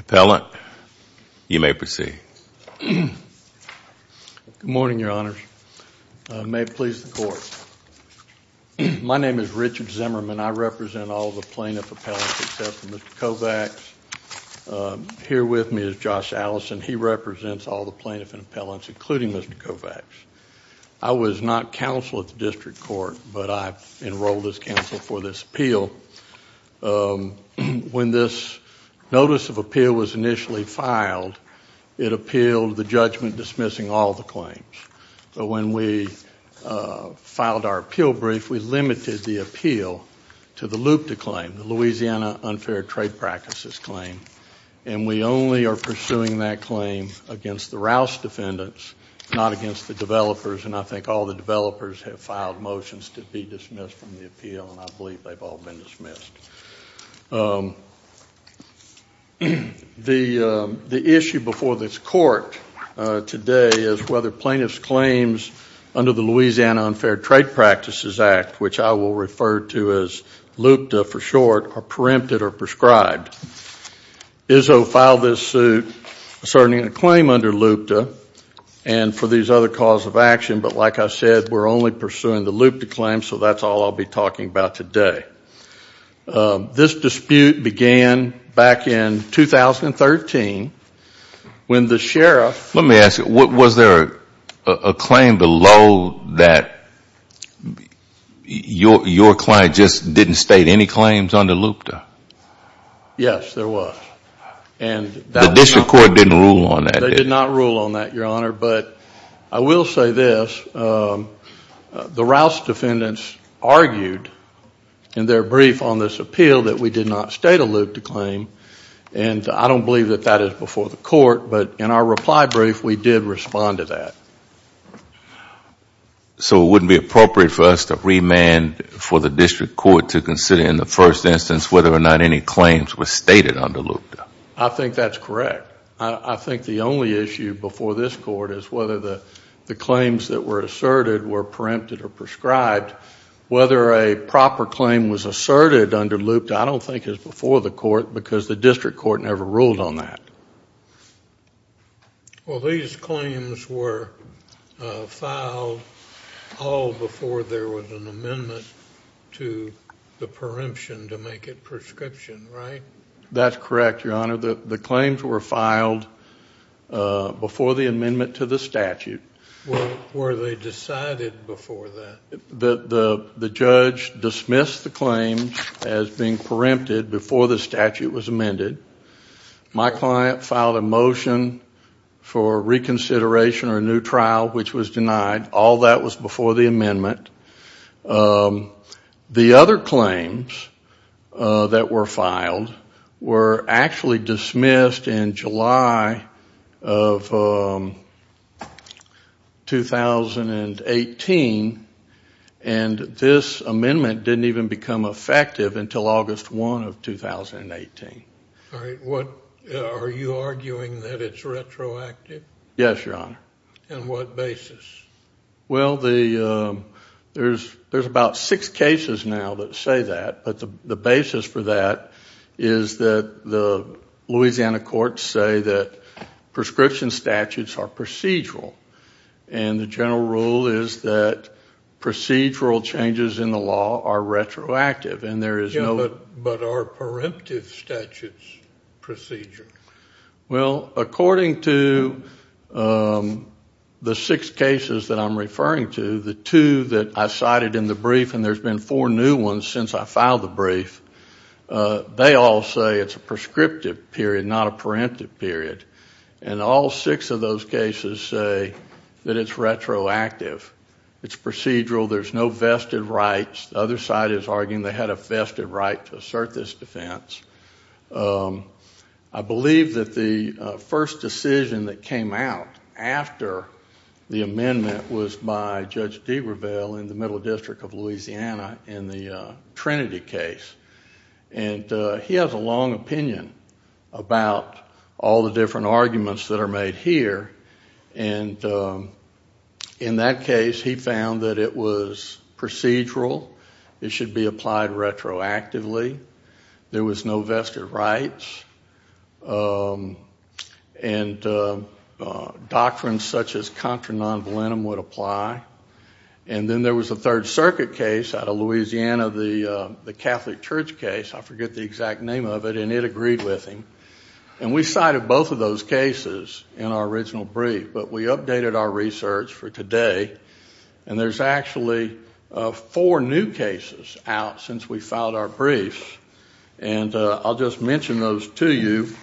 Appellant, you may proceed. Good morning, Your Honors. May it please the Court. My name is Richard Zimmerman. I represent all the plaintiff appellants except for Mr. Kovacs. Here with me is Josh Allison. He represents all the plaintiff and appellants, including Mr. Kovacs. I was not counsel at the District Court, but I enrolled as counsel for this appeal. When this notice of appeal was initially filed, it appealed the judgment dismissing all the claims. But when we filed our appeal brief, we limited the appeal to the LUPTA claim, the Louisiana Unfair Trade Practices claim. And we only are pursuing that claim against the Rouse defendants, not against the developers. And I think all the developers have filed motions to be dismissed from the appeal, and I believe they've all been dismissed. The issue before this Court today is whether plaintiff's claims under the Louisiana Unfair Trade Practices Act, which I will refer to as LUPTA for short, are preempted or prescribed. Izzo filed this suit asserting a claim under LUPTA and for these other cause of action, but like I said, we're only pursuing the LUPTA claim, so that's all I'll be talking about today. This dispute began back in 2013 when the sheriff Let me ask you, was there a claim below that your client just didn't state any claims under LUPTA? Yes, there was. The District Court didn't rule on that. They did not rule on that, Your Honor, but I will say this. The Rouse defendants argued in their brief on this appeal that we did not state a LUPTA claim, and I don't believe that that is before the Court, but in our reply brief, we did respond to that. So it wouldn't be appropriate for us to remand for the District Court to consider in the first instance whether or not any claims were stated under LUPTA? I think that's correct. I think the only issue before this Court is whether the claims that were asserted were preempted or prescribed. Whether a proper claim was asserted under LUPTA I don't think is before the Court because the District Court never ruled on that. Well, these claims were filed all before there was an amendment to the preemption to make it prescription, right? That's correct, Your Honor. The claims were filed before the amendment to the statute. Were they decided before that? The judge dismissed the claims as being preempted before the statute was amended. My client filed a motion for reconsideration or a new trial, which was denied. All that was before the amendment. The other claims that were filed were actually dismissed in July of 2018, and this amendment didn't even become effective until August 1 of 2018. Are you arguing that it's retroactive? Yes, Your Honor. On what basis? Well, there's about six cases now that say that, but the basis for that is that the Louisiana courts say that prescription statutes are procedural, and the general rule is that procedural changes in the law are retroactive. But are preemptive statutes procedural? Well, according to the six cases that I'm referring to, the two that I cited in the brief, and there's been four new ones since I filed the brief, they all say it's a prescriptive period, not a preemptive period, and all six of those cases say that it's retroactive. It's procedural. There's no vested rights. The other side is arguing they had a vested right to assert this defense. I believe that the first decision that came out after the amendment was by Judge Degreville in the Middle District of Louisiana in the Trinity case, and he has a long opinion about all the different arguments that are made here, and in that case, he found that it was procedural. It should be applied retroactively. There was no vested rights, and doctrines such as contra non volentem would apply, and then there was a Third Circuit case out of Louisiana, the Catholic Church case. I forget the exact name of it, and it agreed with him, and we cited both of those cases in our original brief, but we updated our research for today, and there's actually four new cases out since we filed our briefs, and I'll just mention those to you.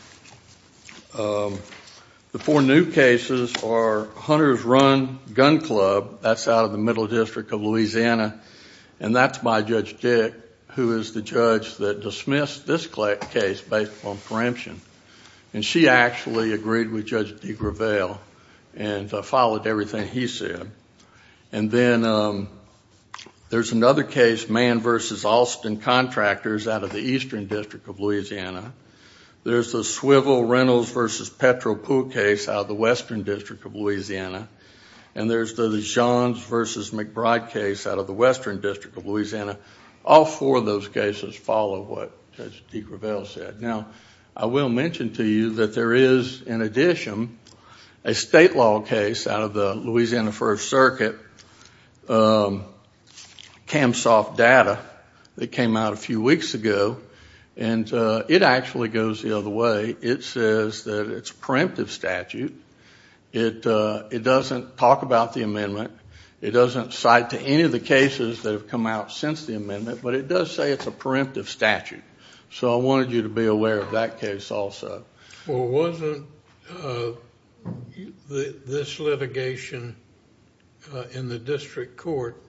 The four new cases are Hunter's Run Gun Club. That's out of the Middle District of Louisiana, and that's by Judge Dick, who is the judge that dismissed this case based on preemption, and she actually agreed with Judge Degreville and followed everything he said, and then there's another case, Mann v. Alston Contractors, out of the Eastern District of Louisiana. There's the Swivel Reynolds v. Petropoulos case out of the Western District of Louisiana, and there's the Johns v. McBride case out of the Western District of Louisiana. All four of those cases follow what Judge Degreville said. Now, I will mention to you that there is, in addition, a state law case out of the Louisiana First Circuit, CAMSOFT Data, that came out a few weeks ago, and it actually goes the other way. It says that it's a preemptive statute. It doesn't talk about the amendment. It doesn't cite to any of the cases that have come out since the amendment, but it does say it's a preemptive statute. So I wanted you to be aware of that case also. Well, wasn't this litigation in the district court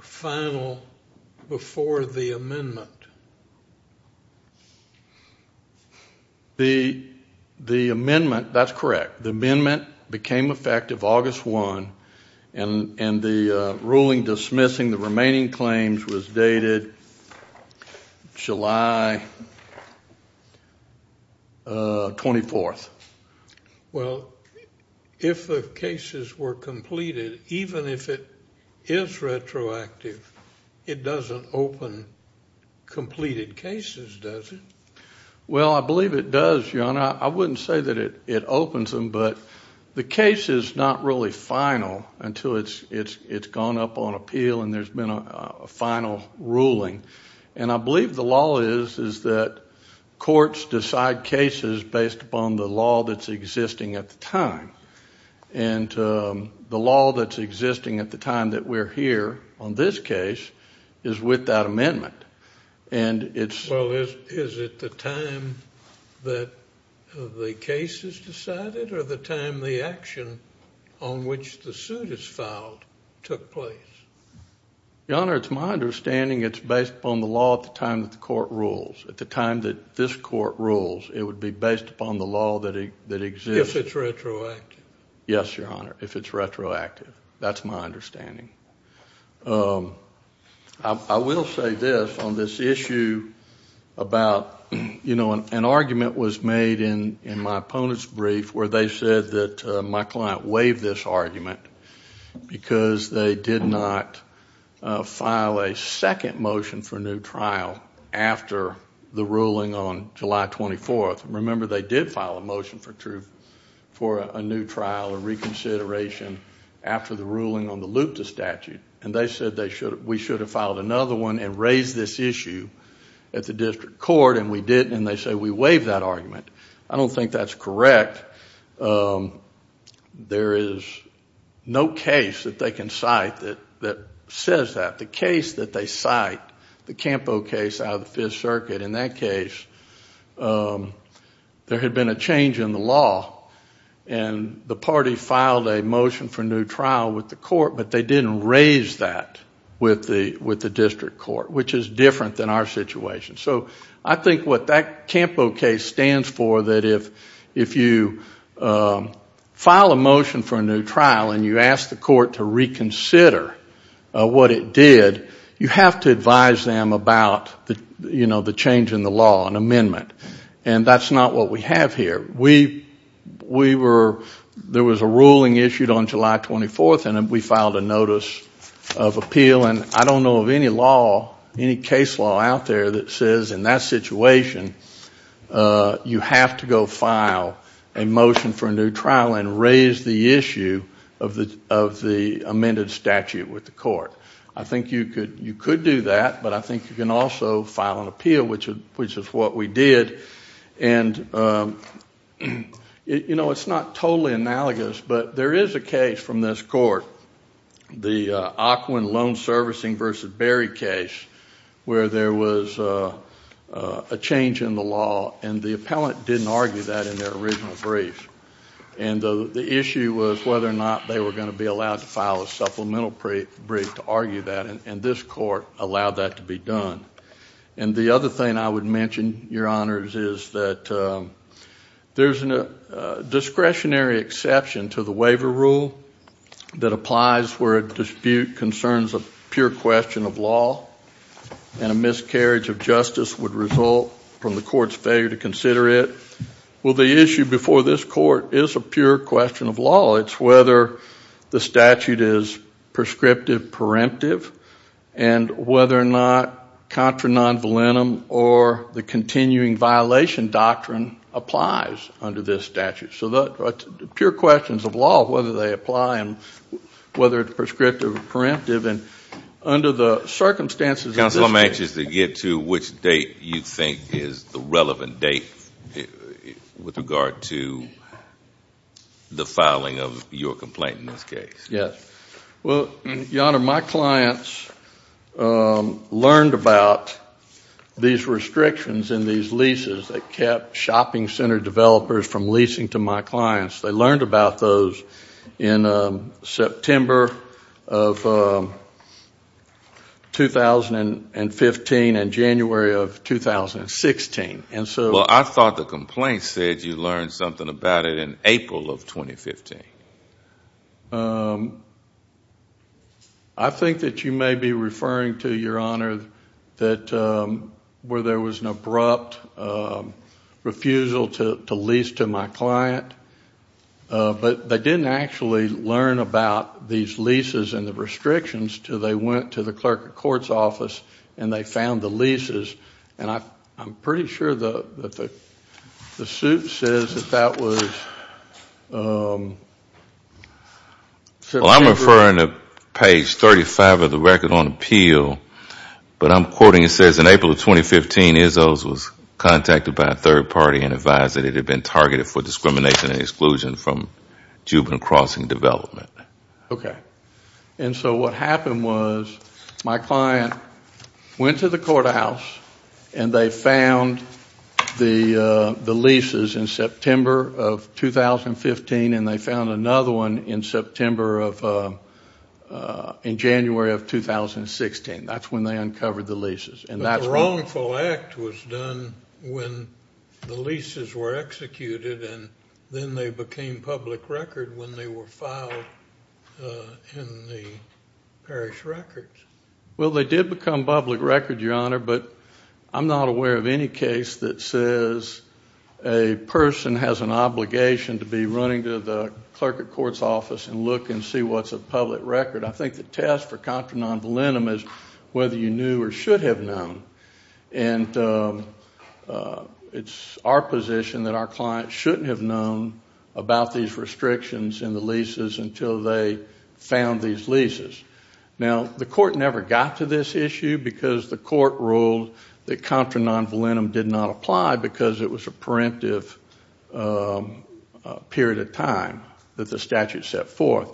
final before the amendment? The amendment, that's correct. The amendment became effective August 1, and the ruling dismissing the remaining claims was dated July 24th. Well, if the cases were completed, even if it is retroactive, it doesn't open completed cases, does it? Well, I believe it does, Your Honor. I wouldn't say that it opens them, but the case is not really final until it's gone up on appeal and there's been a final ruling. And I believe the law is that courts decide cases based upon the law that's existing at the time. And the law that's existing at the time that we're here on this case is with that amendment. Well, is it the time that the case is decided or the time the action on which the suit is filed took place? Your Honor, it's my understanding it's based upon the law at the time that the court rules. At the time that this court rules, it would be based upon the law that exists. If it's retroactive. Yes, Your Honor, if it's retroactive. That's my understanding. I will say this on this issue about, you know, an argument was made in my opponent's brief where they said that my client waived this argument because they did not file a second motion for new trial after the ruling on July 24th. Remember, they did file a motion for a new trial or reconsideration after the ruling on the Luta statute. And they said we should have filed another one and raised this issue at the district court, and we didn't, and they said we waived that argument. I don't think that's correct. There is no case that they can cite that says that. The case that they cite, the Campo case out of the Fifth Circuit, in that case there had been a change in the law. And the party filed a motion for new trial with the court, but they didn't raise that with the district court, which is different than our situation. So I think what that Campo case stands for, that if you file a motion for a new trial and you ask the court to reconsider what it did, you have to advise them about, you know, the change in the law, an amendment. And that's not what we have here. We were, there was a ruling issued on July 24th, and we filed a notice of appeal. And I don't know of any law, any case law out there that says in that situation you have to go file a motion for a new trial and raise the issue of the amended statute with the court. I think you could do that, but I think you can also file an appeal, which is what we did. And, you know, it's not totally analogous, but there is a case from this court, the Aquin Loan Servicing v. Berry case, where there was a change in the law, and the appellant didn't argue that in their original brief. And the issue was whether or not they were going to be allowed to file a supplemental brief to argue that, and this court allowed that to be done. And the other thing I would mention, Your Honors, is that there's a discretionary exception to the waiver rule that applies where a dispute concerns a pure question of law, and a miscarriage of justice would result from the court's failure to consider it. Well, the issue before this court is a pure question of law. It's whether the statute is prescriptive, preemptive, and whether or not contra non volentum or the continuing violation doctrine applies under this statute. So pure questions of law, whether they apply and whether it's prescriptive or preemptive, and under the circumstances of this case. which date you think is the relevant date with regard to the filing of your complaint in this case? Yes. Well, Your Honor, my clients learned about these restrictions in these leases that kept shopping center developers from leasing to my clients. They learned about those in September of 2015 and January of 2016. Well, I thought the complaint said you learned something about it in April of 2015. I think that you may be referring to, Your Honor, that where there was an abrupt refusal to lease to my client, but they didn't actually learn about these leases and the restrictions until they went to the clerk of court's office and they found the leases. And I'm pretty sure that the suit says that that was September. Well, I'm referring to page 35 of the record on appeal, but I'm quoting it says in April of 2015, Izzo's was contacted by a third party and advised that it had been targeted for discrimination and exclusion from Jubin Crossing development. Okay. And so what happened was my client went to the courthouse and they found the leases in September of 2015 and they found another one in January of 2016. That's when they uncovered the leases. But the wrongful act was done when the leases were executed and then they became public record when they were filed in the parish records. Well, they did become public record, Your Honor, but I'm not aware of any case that says a person has an obligation to be running to the clerk of court's office and look and see what's a public record. I think the test for contra non volentum is whether you knew or should have known. And it's our position that our client shouldn't have known about these restrictions and the leases until they found these leases. Now, the court never got to this issue because the court ruled that contra non volentum did not apply because it was a preemptive period of time that the statute set forth.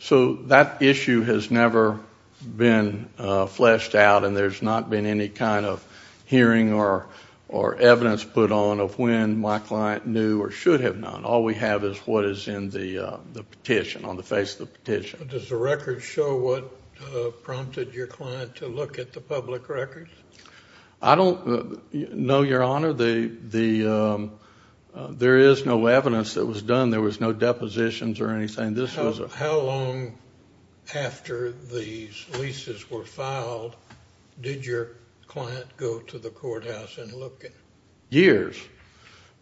So that issue has never been fleshed out and there's not been any kind of hearing or evidence put on of when my client knew or should have known. All we have is what is in the petition, on the face of the petition. Does the record show what prompted your client to look at the public records? I don't know, Your Honor. There is no evidence that was done. There was no depositions or anything. How long after these leases were filed did your client go to the courthouse and look? Years.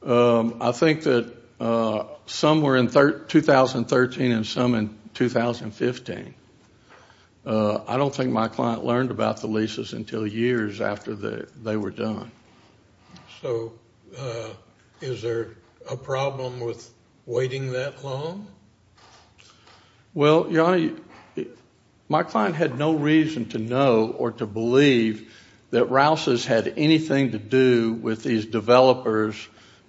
I think that some were in 2013 and some in 2015. I don't think my client learned about the leases until years after they were done. So is there a problem with waiting that long? Well, Your Honor, my client had no reason to know or to believe that Rouse's had anything to do with these developers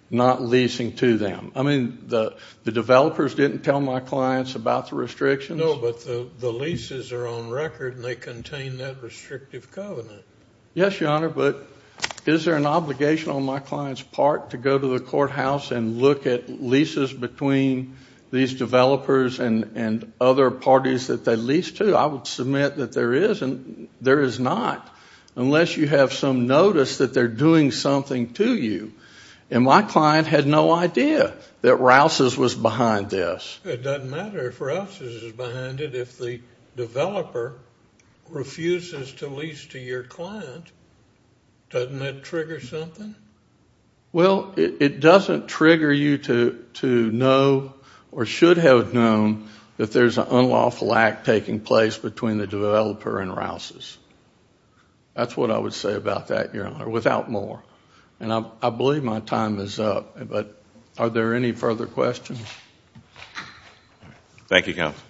not leasing to them. I mean, the developers didn't tell my clients about the restrictions. No, but the leases are on record and they contain that restrictive covenant. Yes, Your Honor, but is there an obligation on my client's part to go to the courthouse and look at leases between these developers and other parties that they lease to? I would submit that there is not, unless you have some notice that they're doing something to you. And my client had no idea that Rouse's was behind this. It doesn't matter if Rouse's is behind it. If the developer refuses to lease to your client, doesn't that trigger something? Well, it doesn't trigger you to know or should have known that there's an unlawful act taking place between the developer and Rouse's. That's what I would say about that, Your Honor, without more. And I believe my time is up, but are there any further questions? Thank you, Counsel.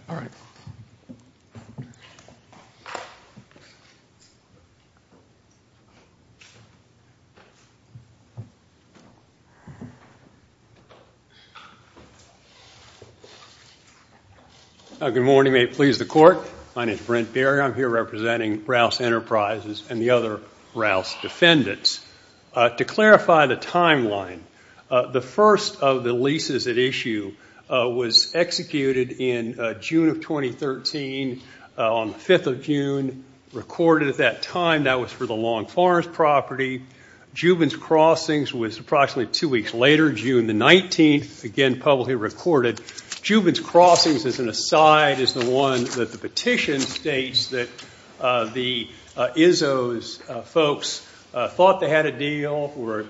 Good morning. May it please the Court. My name is Brent Berry. I'm here representing Rouse Enterprises and the other Rouse defendants. To clarify the timeline, the first of the leases at issue was executed in June of 2013, on the 5th of June, recorded at that time. That was for the Long Forest property. Jubin's Crossings was approximately two weeks later, June the 19th, again publicly recorded. Jubin's Crossings, as an aside, is the one that the petition states that the Izzo's folks thought they had a deal for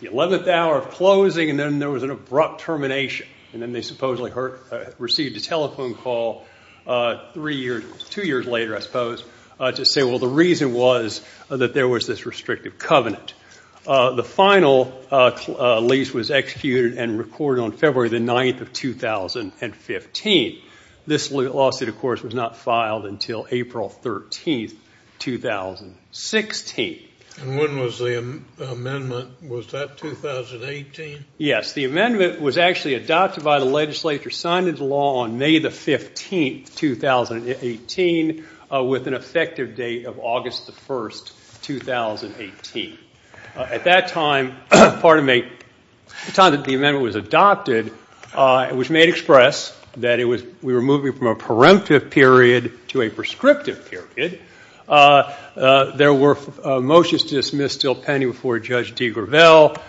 the 11th hour of closing, and then there was an abrupt termination. And then they supposedly received a telephone call three years, two years later, I suppose, to say, well, the reason was that there was this restrictive covenant. The final lease was executed and recorded on February the 9th of 2015. This lawsuit, of course, was not filed until April 13th, 2016. And when was the amendment? Was that 2018? Yes. The amendment was actually adopted by the legislature, signed into law on May the 15th, 2018, with an effective date of August the 1st, 2018. At that time, the time that the amendment was adopted, it was made express that we were moving from a preemptive period to a prescriptive period. There were motions to dismiss Steele Penny before Judge DeGravelle.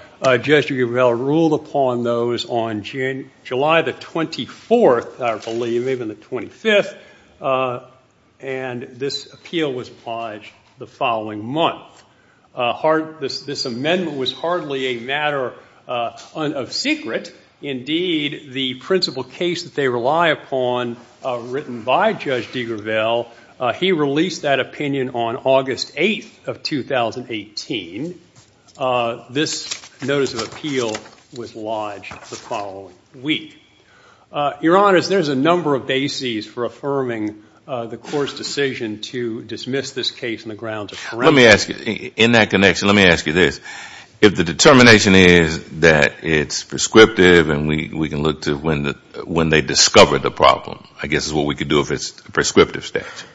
Judge DeGravelle ruled upon those on July the 24th, I believe, even the 25th, and this appeal was obliged the following month. This amendment was hardly a matter of secret. Indeed, the principal case that they rely upon, written by Judge DeGravelle, he released that opinion on August 8th of 2018. This notice of appeal was lodged the following week. Your Honors, there's a number of bases for affirming the court's decision to dismiss this case on the grounds of preemption. Let me ask you, in that connection, let me ask you this. If the determination is that it's prescriptive and we can look to when they discovered the problem, I guess is what we could do if it's prescriptive statute.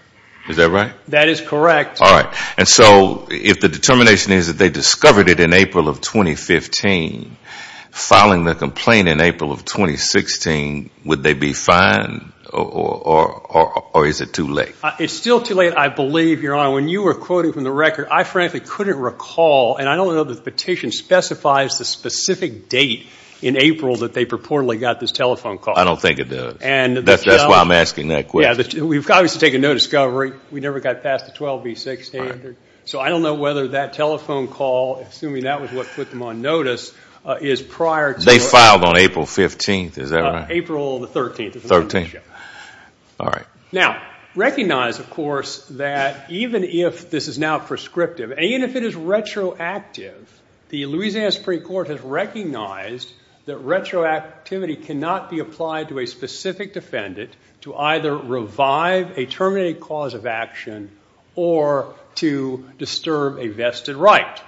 Is that right? That is correct. All right. And so if the determination is that they discovered it in April of 2015, filing the complaint in April of 2016, would they be fined? Or is it too late? It's still too late, I believe, Your Honor. When you were quoting from the record, I frankly couldn't recall, and I don't know that the petition specifies the specific date in April that they purportedly got this telephone call. I don't think it does. That's why I'm asking that question. Yeah, we've obviously taken no discovery. We never got past the 12B6 standard. So I don't know whether that telephone call, assuming that was what put them on notice, is prior to... They filed on April 15th. Is that right? April 13th. 13th. All right. Now, recognize, of course, that even if this is now prescriptive, and even if it is retroactive, the Louisiana Supreme Court has recognized that retroactivity cannot be applied to a specific defendant to either revive a terminated cause of action or to disturb a vested right.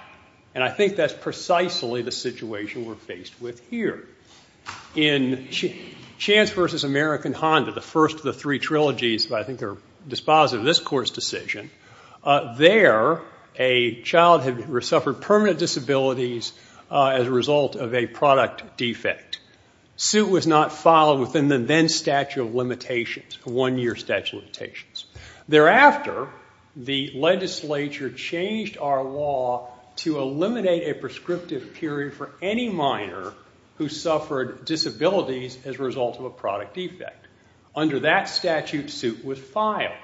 And I think that's precisely the situation we're faced with here. In Chance v. American Honda, the first of the three trilogies, but I think they're dispositive of this Court's decision, there a child had suffered permanent disabilities as a result of a product defect. Suit was not filed within the then statute of limitations, one-year statute of limitations. Thereafter, the legislature changed our law to eliminate a prescriptive period for any minor who suffered disabilities as a result of a product defect. Under that statute, suit was filed.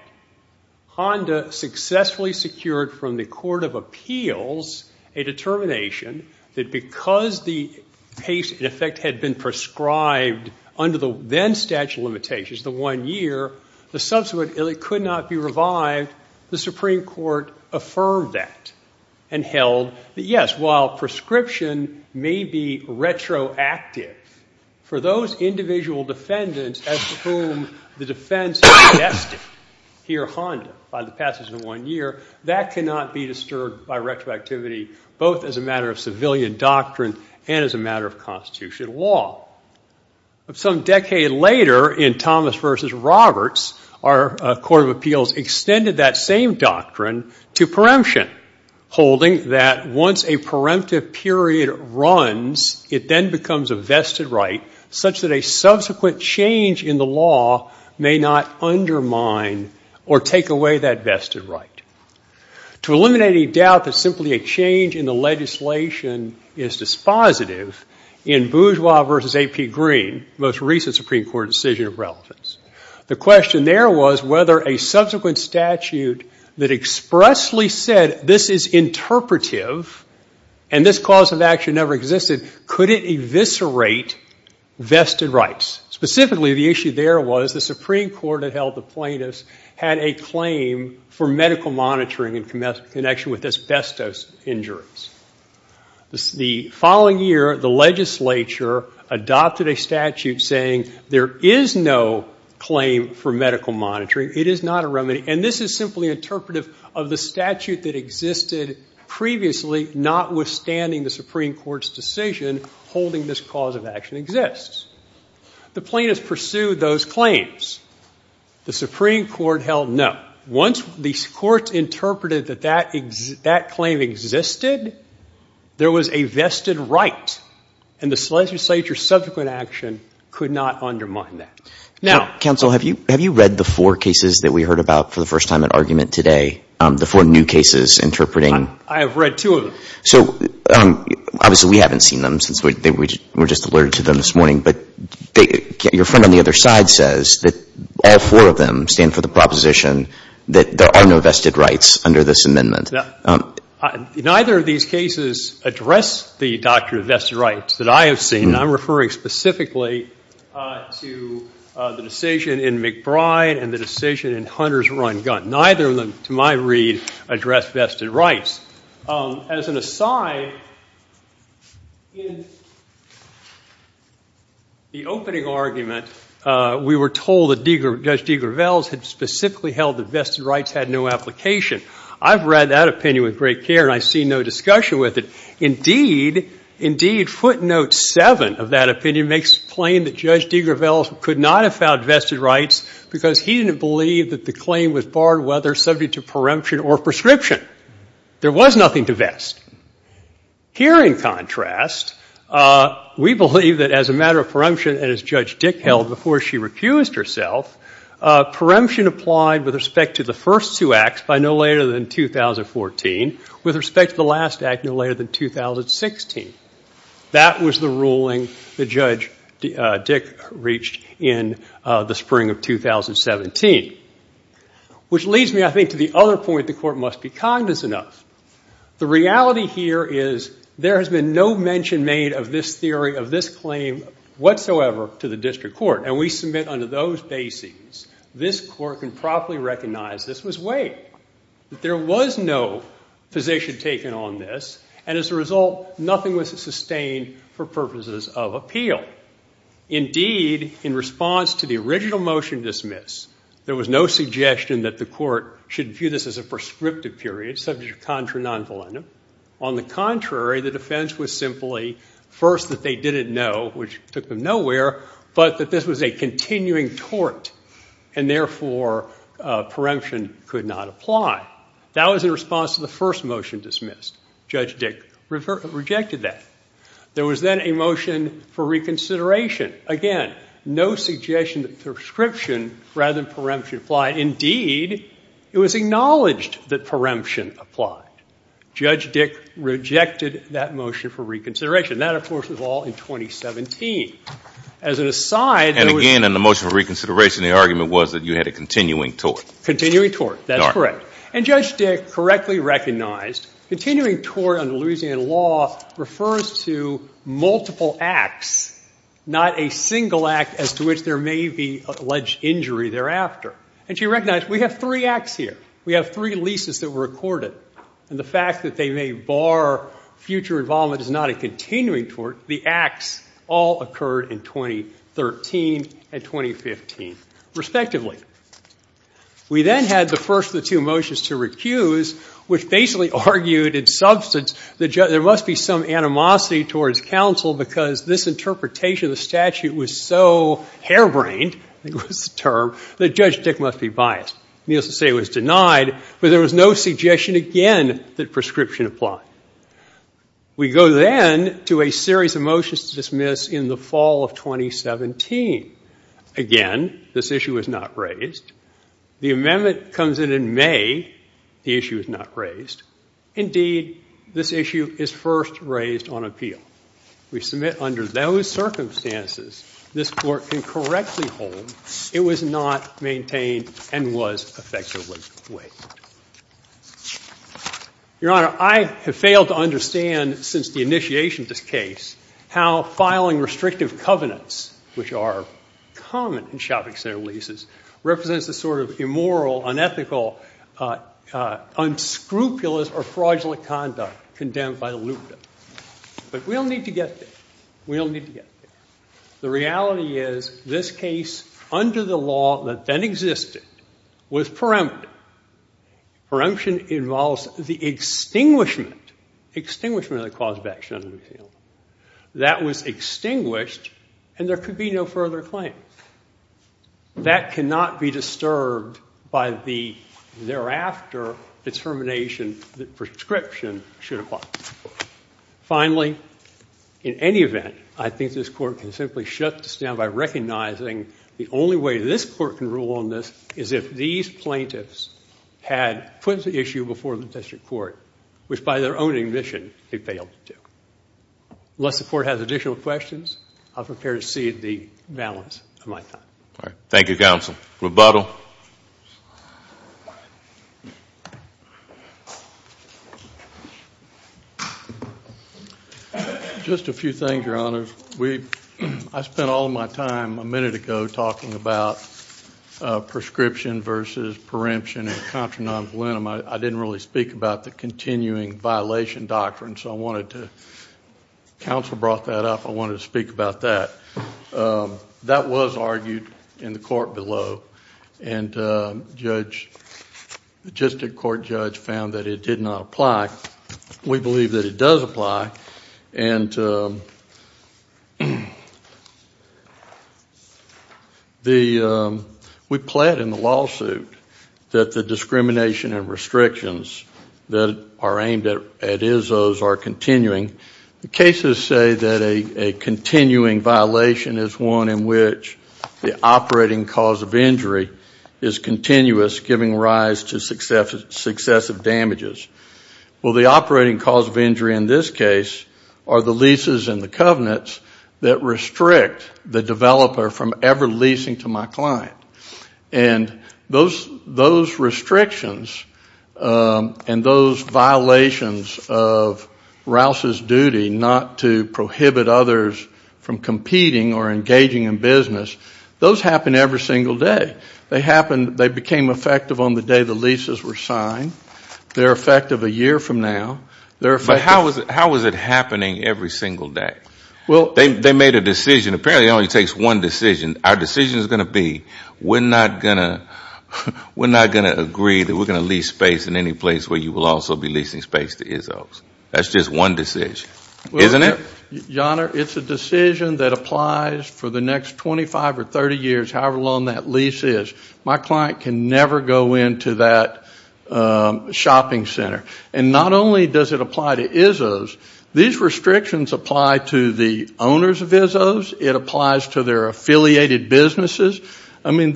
Honda successfully secured from the Court of Appeals a determination that because the case, in effect, had been prescribed under the then statute of limitations, the one-year, the subsequent could not be revived. The Supreme Court affirmed that and held that, yes, while prescription may be retroactive for those individual defendants as to whom the defense is vested here, Honda, by the passage of one year, that cannot be disturbed by retroactivity, both as a matter of civilian doctrine and as a matter of Constitutional law. Some decade later, in Thomas v. Roberts, our Court of Appeals extended that same doctrine to preemption, holding that once a preemptive period runs, it then becomes a vested right such that a subsequent change in the law may not undermine or take away that vested right. To eliminate any doubt that simply a change in the legislation is dispositive, in Bourgeois v. A.P. Green, most recent Supreme Court decision of relevance, the question there was whether a subsequent statute that expressly said, this is interpretive and this cause of action never existed, could it eviscerate vested rights. Specifically, the issue there was the Supreme Court that held the plaintiffs had a claim for medical monitoring in connection with asbestos injuries. The following year, the legislature adopted a statute saying, there is no claim for medical monitoring. It is not a remedy. And this is simply interpretive of the statute that existed previously, notwithstanding the Supreme Court's decision holding this cause of action exists. The plaintiffs pursued those claims. The Supreme Court held no. Once the Court interpreted that that claim existed, there was a vested right and the legislature's subsequent action could not undermine that. Now. Counsel, have you read the four cases that we heard about for the first time at argument today? The four new cases interpreting. I have read two of them. So obviously we haven't seen them since we were just alerted to them this morning. But your friend on the other side says that all four of them stand for the proposition that there are no vested rights under this amendment. Neither of these cases address the doctrine of vested rights that I have seen. And I'm referring specifically to the decision in McBride and the decision in Hunter's run gun. Neither of them, to my read, address vested rights. As an aside, in the opening argument, we were told that Judge De Gravels had specifically held that vested rights had no application. I've read that opinion with great care and I see no discussion with it. Indeed, footnote seven of that opinion makes it plain that Judge De Gravels could not have found vested rights because he didn't believe that the claim was barred whether subject to preemption or prescription. There was nothing to vest. Here, in contrast, we believe that as a matter of preemption, and as Judge Dick held before she refused herself, preemption applied with respect to the first two acts by no later than 2014, with respect to the last act no later than 2016. That was the ruling that Judge Dick reached in the spring of 2017. Which leads me, I think, to the other point the Court must be cognizant of. The reality here is there has been no mention made of this theory, of this claim whatsoever to the District Court. And we submit under those basings this Court can properly recognize this was weighed. There was no position taken on this. And as a result, nothing was sustained for purposes of appeal. Indeed, in response to the original motion dismiss, there was no suggestion that the Court should view this as a prescriptive period, subject to contra non volendum. On the contrary, the defense was simply first that they didn't know, which took them nowhere, but that this was a continuing tort. And therefore, preemption could not apply. That was in response to the first motion dismissed. Judge Dick rejected that. There was then a motion for reconsideration. Again, no suggestion that prescription rather than preemption applied. Indeed, it was acknowledged that preemption applied. Judge Dick rejected that motion for reconsideration. That, of course, was all in 2017. And again, in the motion for reconsideration, the argument was that you had a continuing tort. Continuing tort. That's correct. And Judge Dick correctly recognized continuing tort under Louisiana law refers to multiple acts, not a single act as to which there may be alleged injury thereafter. And she recognized we have three acts here. We have three leases that were accorded. And the fact that they may bar future involvement is not a continuing tort. The acts all occurred in 2013 and 2015, respectively. We then had the first of the two motions to recuse, which basically argued in substance that there must be some animosity towards counsel because this interpretation of the statute was so harebrained, I think was the term, that Judge Dick must be biased. Needless to say, it was denied. But there was no suggestion again that prescription applied. We go then to a series of motions to dismiss in the fall of 2017. Again, this issue was not raised. The amendment comes in in May. The issue is not raised. Indeed, this issue is first raised on appeal. We submit under those circumstances this court can correctly hold it was not maintained and was effectively waived. Your Honor, I have failed to understand since the initiation of this case how filing restrictive covenants, which are common in shopping center leases, represents the sort of immoral, unethical, unscrupulous, or fraudulent conduct condemned by the loophole. But we don't need to get there. We don't need to get there. The reality is this case, under the law that then existed, was perempted. Peremption involves the extinguishment, extinguishment of the cause of action under the New Zealand law. That was extinguished, and there could be no further claim. That cannot be disturbed by the thereafter determination that prescription should apply. Finally, in any event, I think this court can simply shut this down by recognizing the only way this court can rule on this is if these plaintiffs had put the issue before the district court, which by their own admission, they failed to do. Unless the court has additional questions, I'm prepared to cede the balance of my time. Thank you, counsel. Rebuttal. Just a few things, Your Honor. I spent all of my time a minute ago talking about prescription versus peremption and contra-non-voluntum. I didn't really speak about the continuing violation doctrine, so I wanted to, counsel brought that up, I wanted to speak about that. That was argued in the court below, and the district court judge found that it did not apply. We believe that it does apply, and we plead in the lawsuit that the discrimination and restrictions that are aimed at Izzo's are continuing. The cases say that a continuing violation is one in which the operating cause of injury is continuous, giving rise to successive damages. Well, the operating cause of injury in this case are the leases and the covenants that restrict the developer from ever leasing to my client. And those restrictions and those violations of Rouse's duty not to prohibit others from competing or engaging in business, those happen every single day. They became effective on the day the leases were signed. They're effective a year from now. But how is it happening every single day? They made a decision. Apparently it only takes one decision. Our decision is going to be we're not going to agree that we're going to lease space in any place where you will also be leasing space to Izzo's. That's just one decision, isn't it? Your Honor, it's a decision that applies for the next 25 or 30 years, however long that lease is. My client can never go into that shopping center. And not only does it apply to Izzo's, these restrictions apply to the owners of Izzo's. It applies to their affiliated businesses. I mean,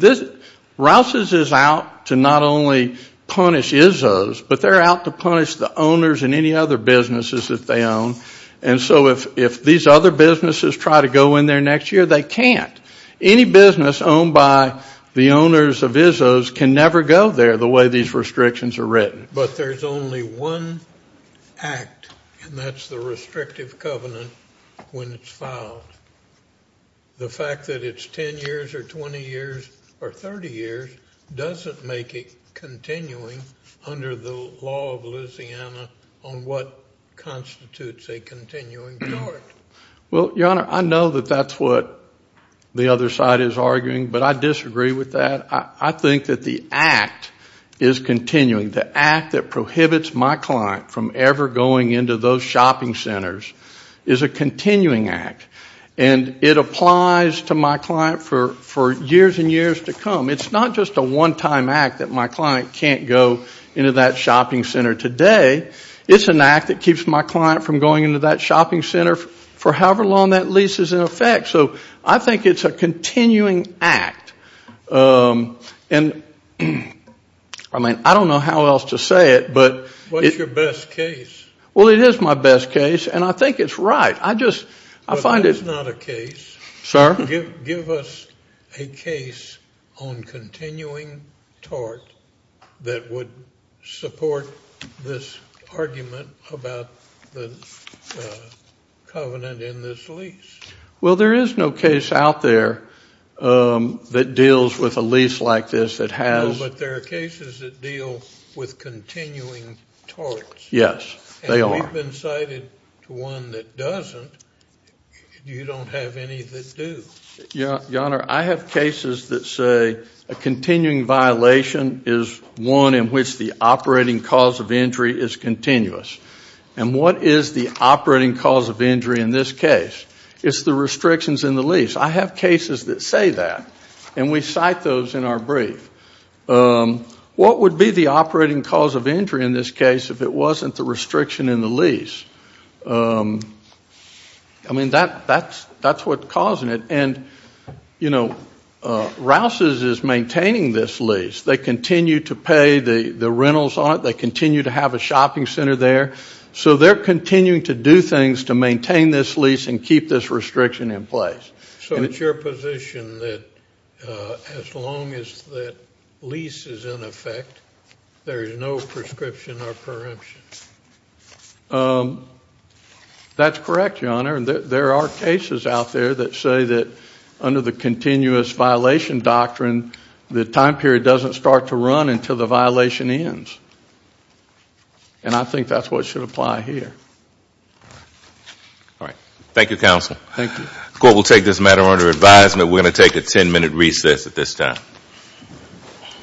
Rouse's is out to not only punish Izzo's, but they're out to punish the owners and any other businesses that they own. And so if these other businesses try to go in there next year, they can't. Any business owned by the owners of Izzo's can never go there the way these restrictions are written. But there's only one act, and that's the restrictive covenant when it's filed. The fact that it's 10 years or 20 years or 30 years doesn't make it continuing under the law of Louisiana on what constitutes a continuing charge. Well, Your Honor, I know that that's what the other side is arguing, but I disagree with that. I think that the act is continuing. The act that prohibits my client from ever going into those shopping centers is a continuing act. And it applies to my client for years and years to come. It's not just a one-time act that my client can't go into that shopping center today. It's an act that keeps my client from going into that shopping center for however long that lease is in effect. So I think it's a continuing act. And, I mean, I don't know how else to say it, but it's- What's your best case? Well, it is my best case, and I think it's right. I just, I find it- But that is not a case. Sir? Give us a case on continuing tort that would support this argument about the covenant in this lease. Well, there is no case out there that deals with a lease like this that has- No, but there are cases that deal with continuing torts. Yes, they are. If you've been cited to one that doesn't, you don't have any that do. Your Honor, I have cases that say a continuing violation is one in which the operating cause of injury is continuous. And what is the operating cause of injury in this case? It's the restrictions in the lease. I have cases that say that, and we cite those in our brief. What would be the operating cause of injury in this case if it wasn't the restriction in the lease? I mean, that's what's causing it. And, you know, Rouse's is maintaining this lease. They continue to pay the rentals on it. They continue to have a shopping center there. So they're continuing to do things to maintain this lease and keep this restriction in place. So it's your position that as long as that lease is in effect, there is no prescription or preemption? That's correct, Your Honor. There are cases out there that say that under the continuous violation doctrine, the time period doesn't start to run until the violation ends. And I think that's what should apply here. All right. Thank you, Counsel. Thank you. The Court will take this matter under advisement. We're going to take a ten-minute recess at this time.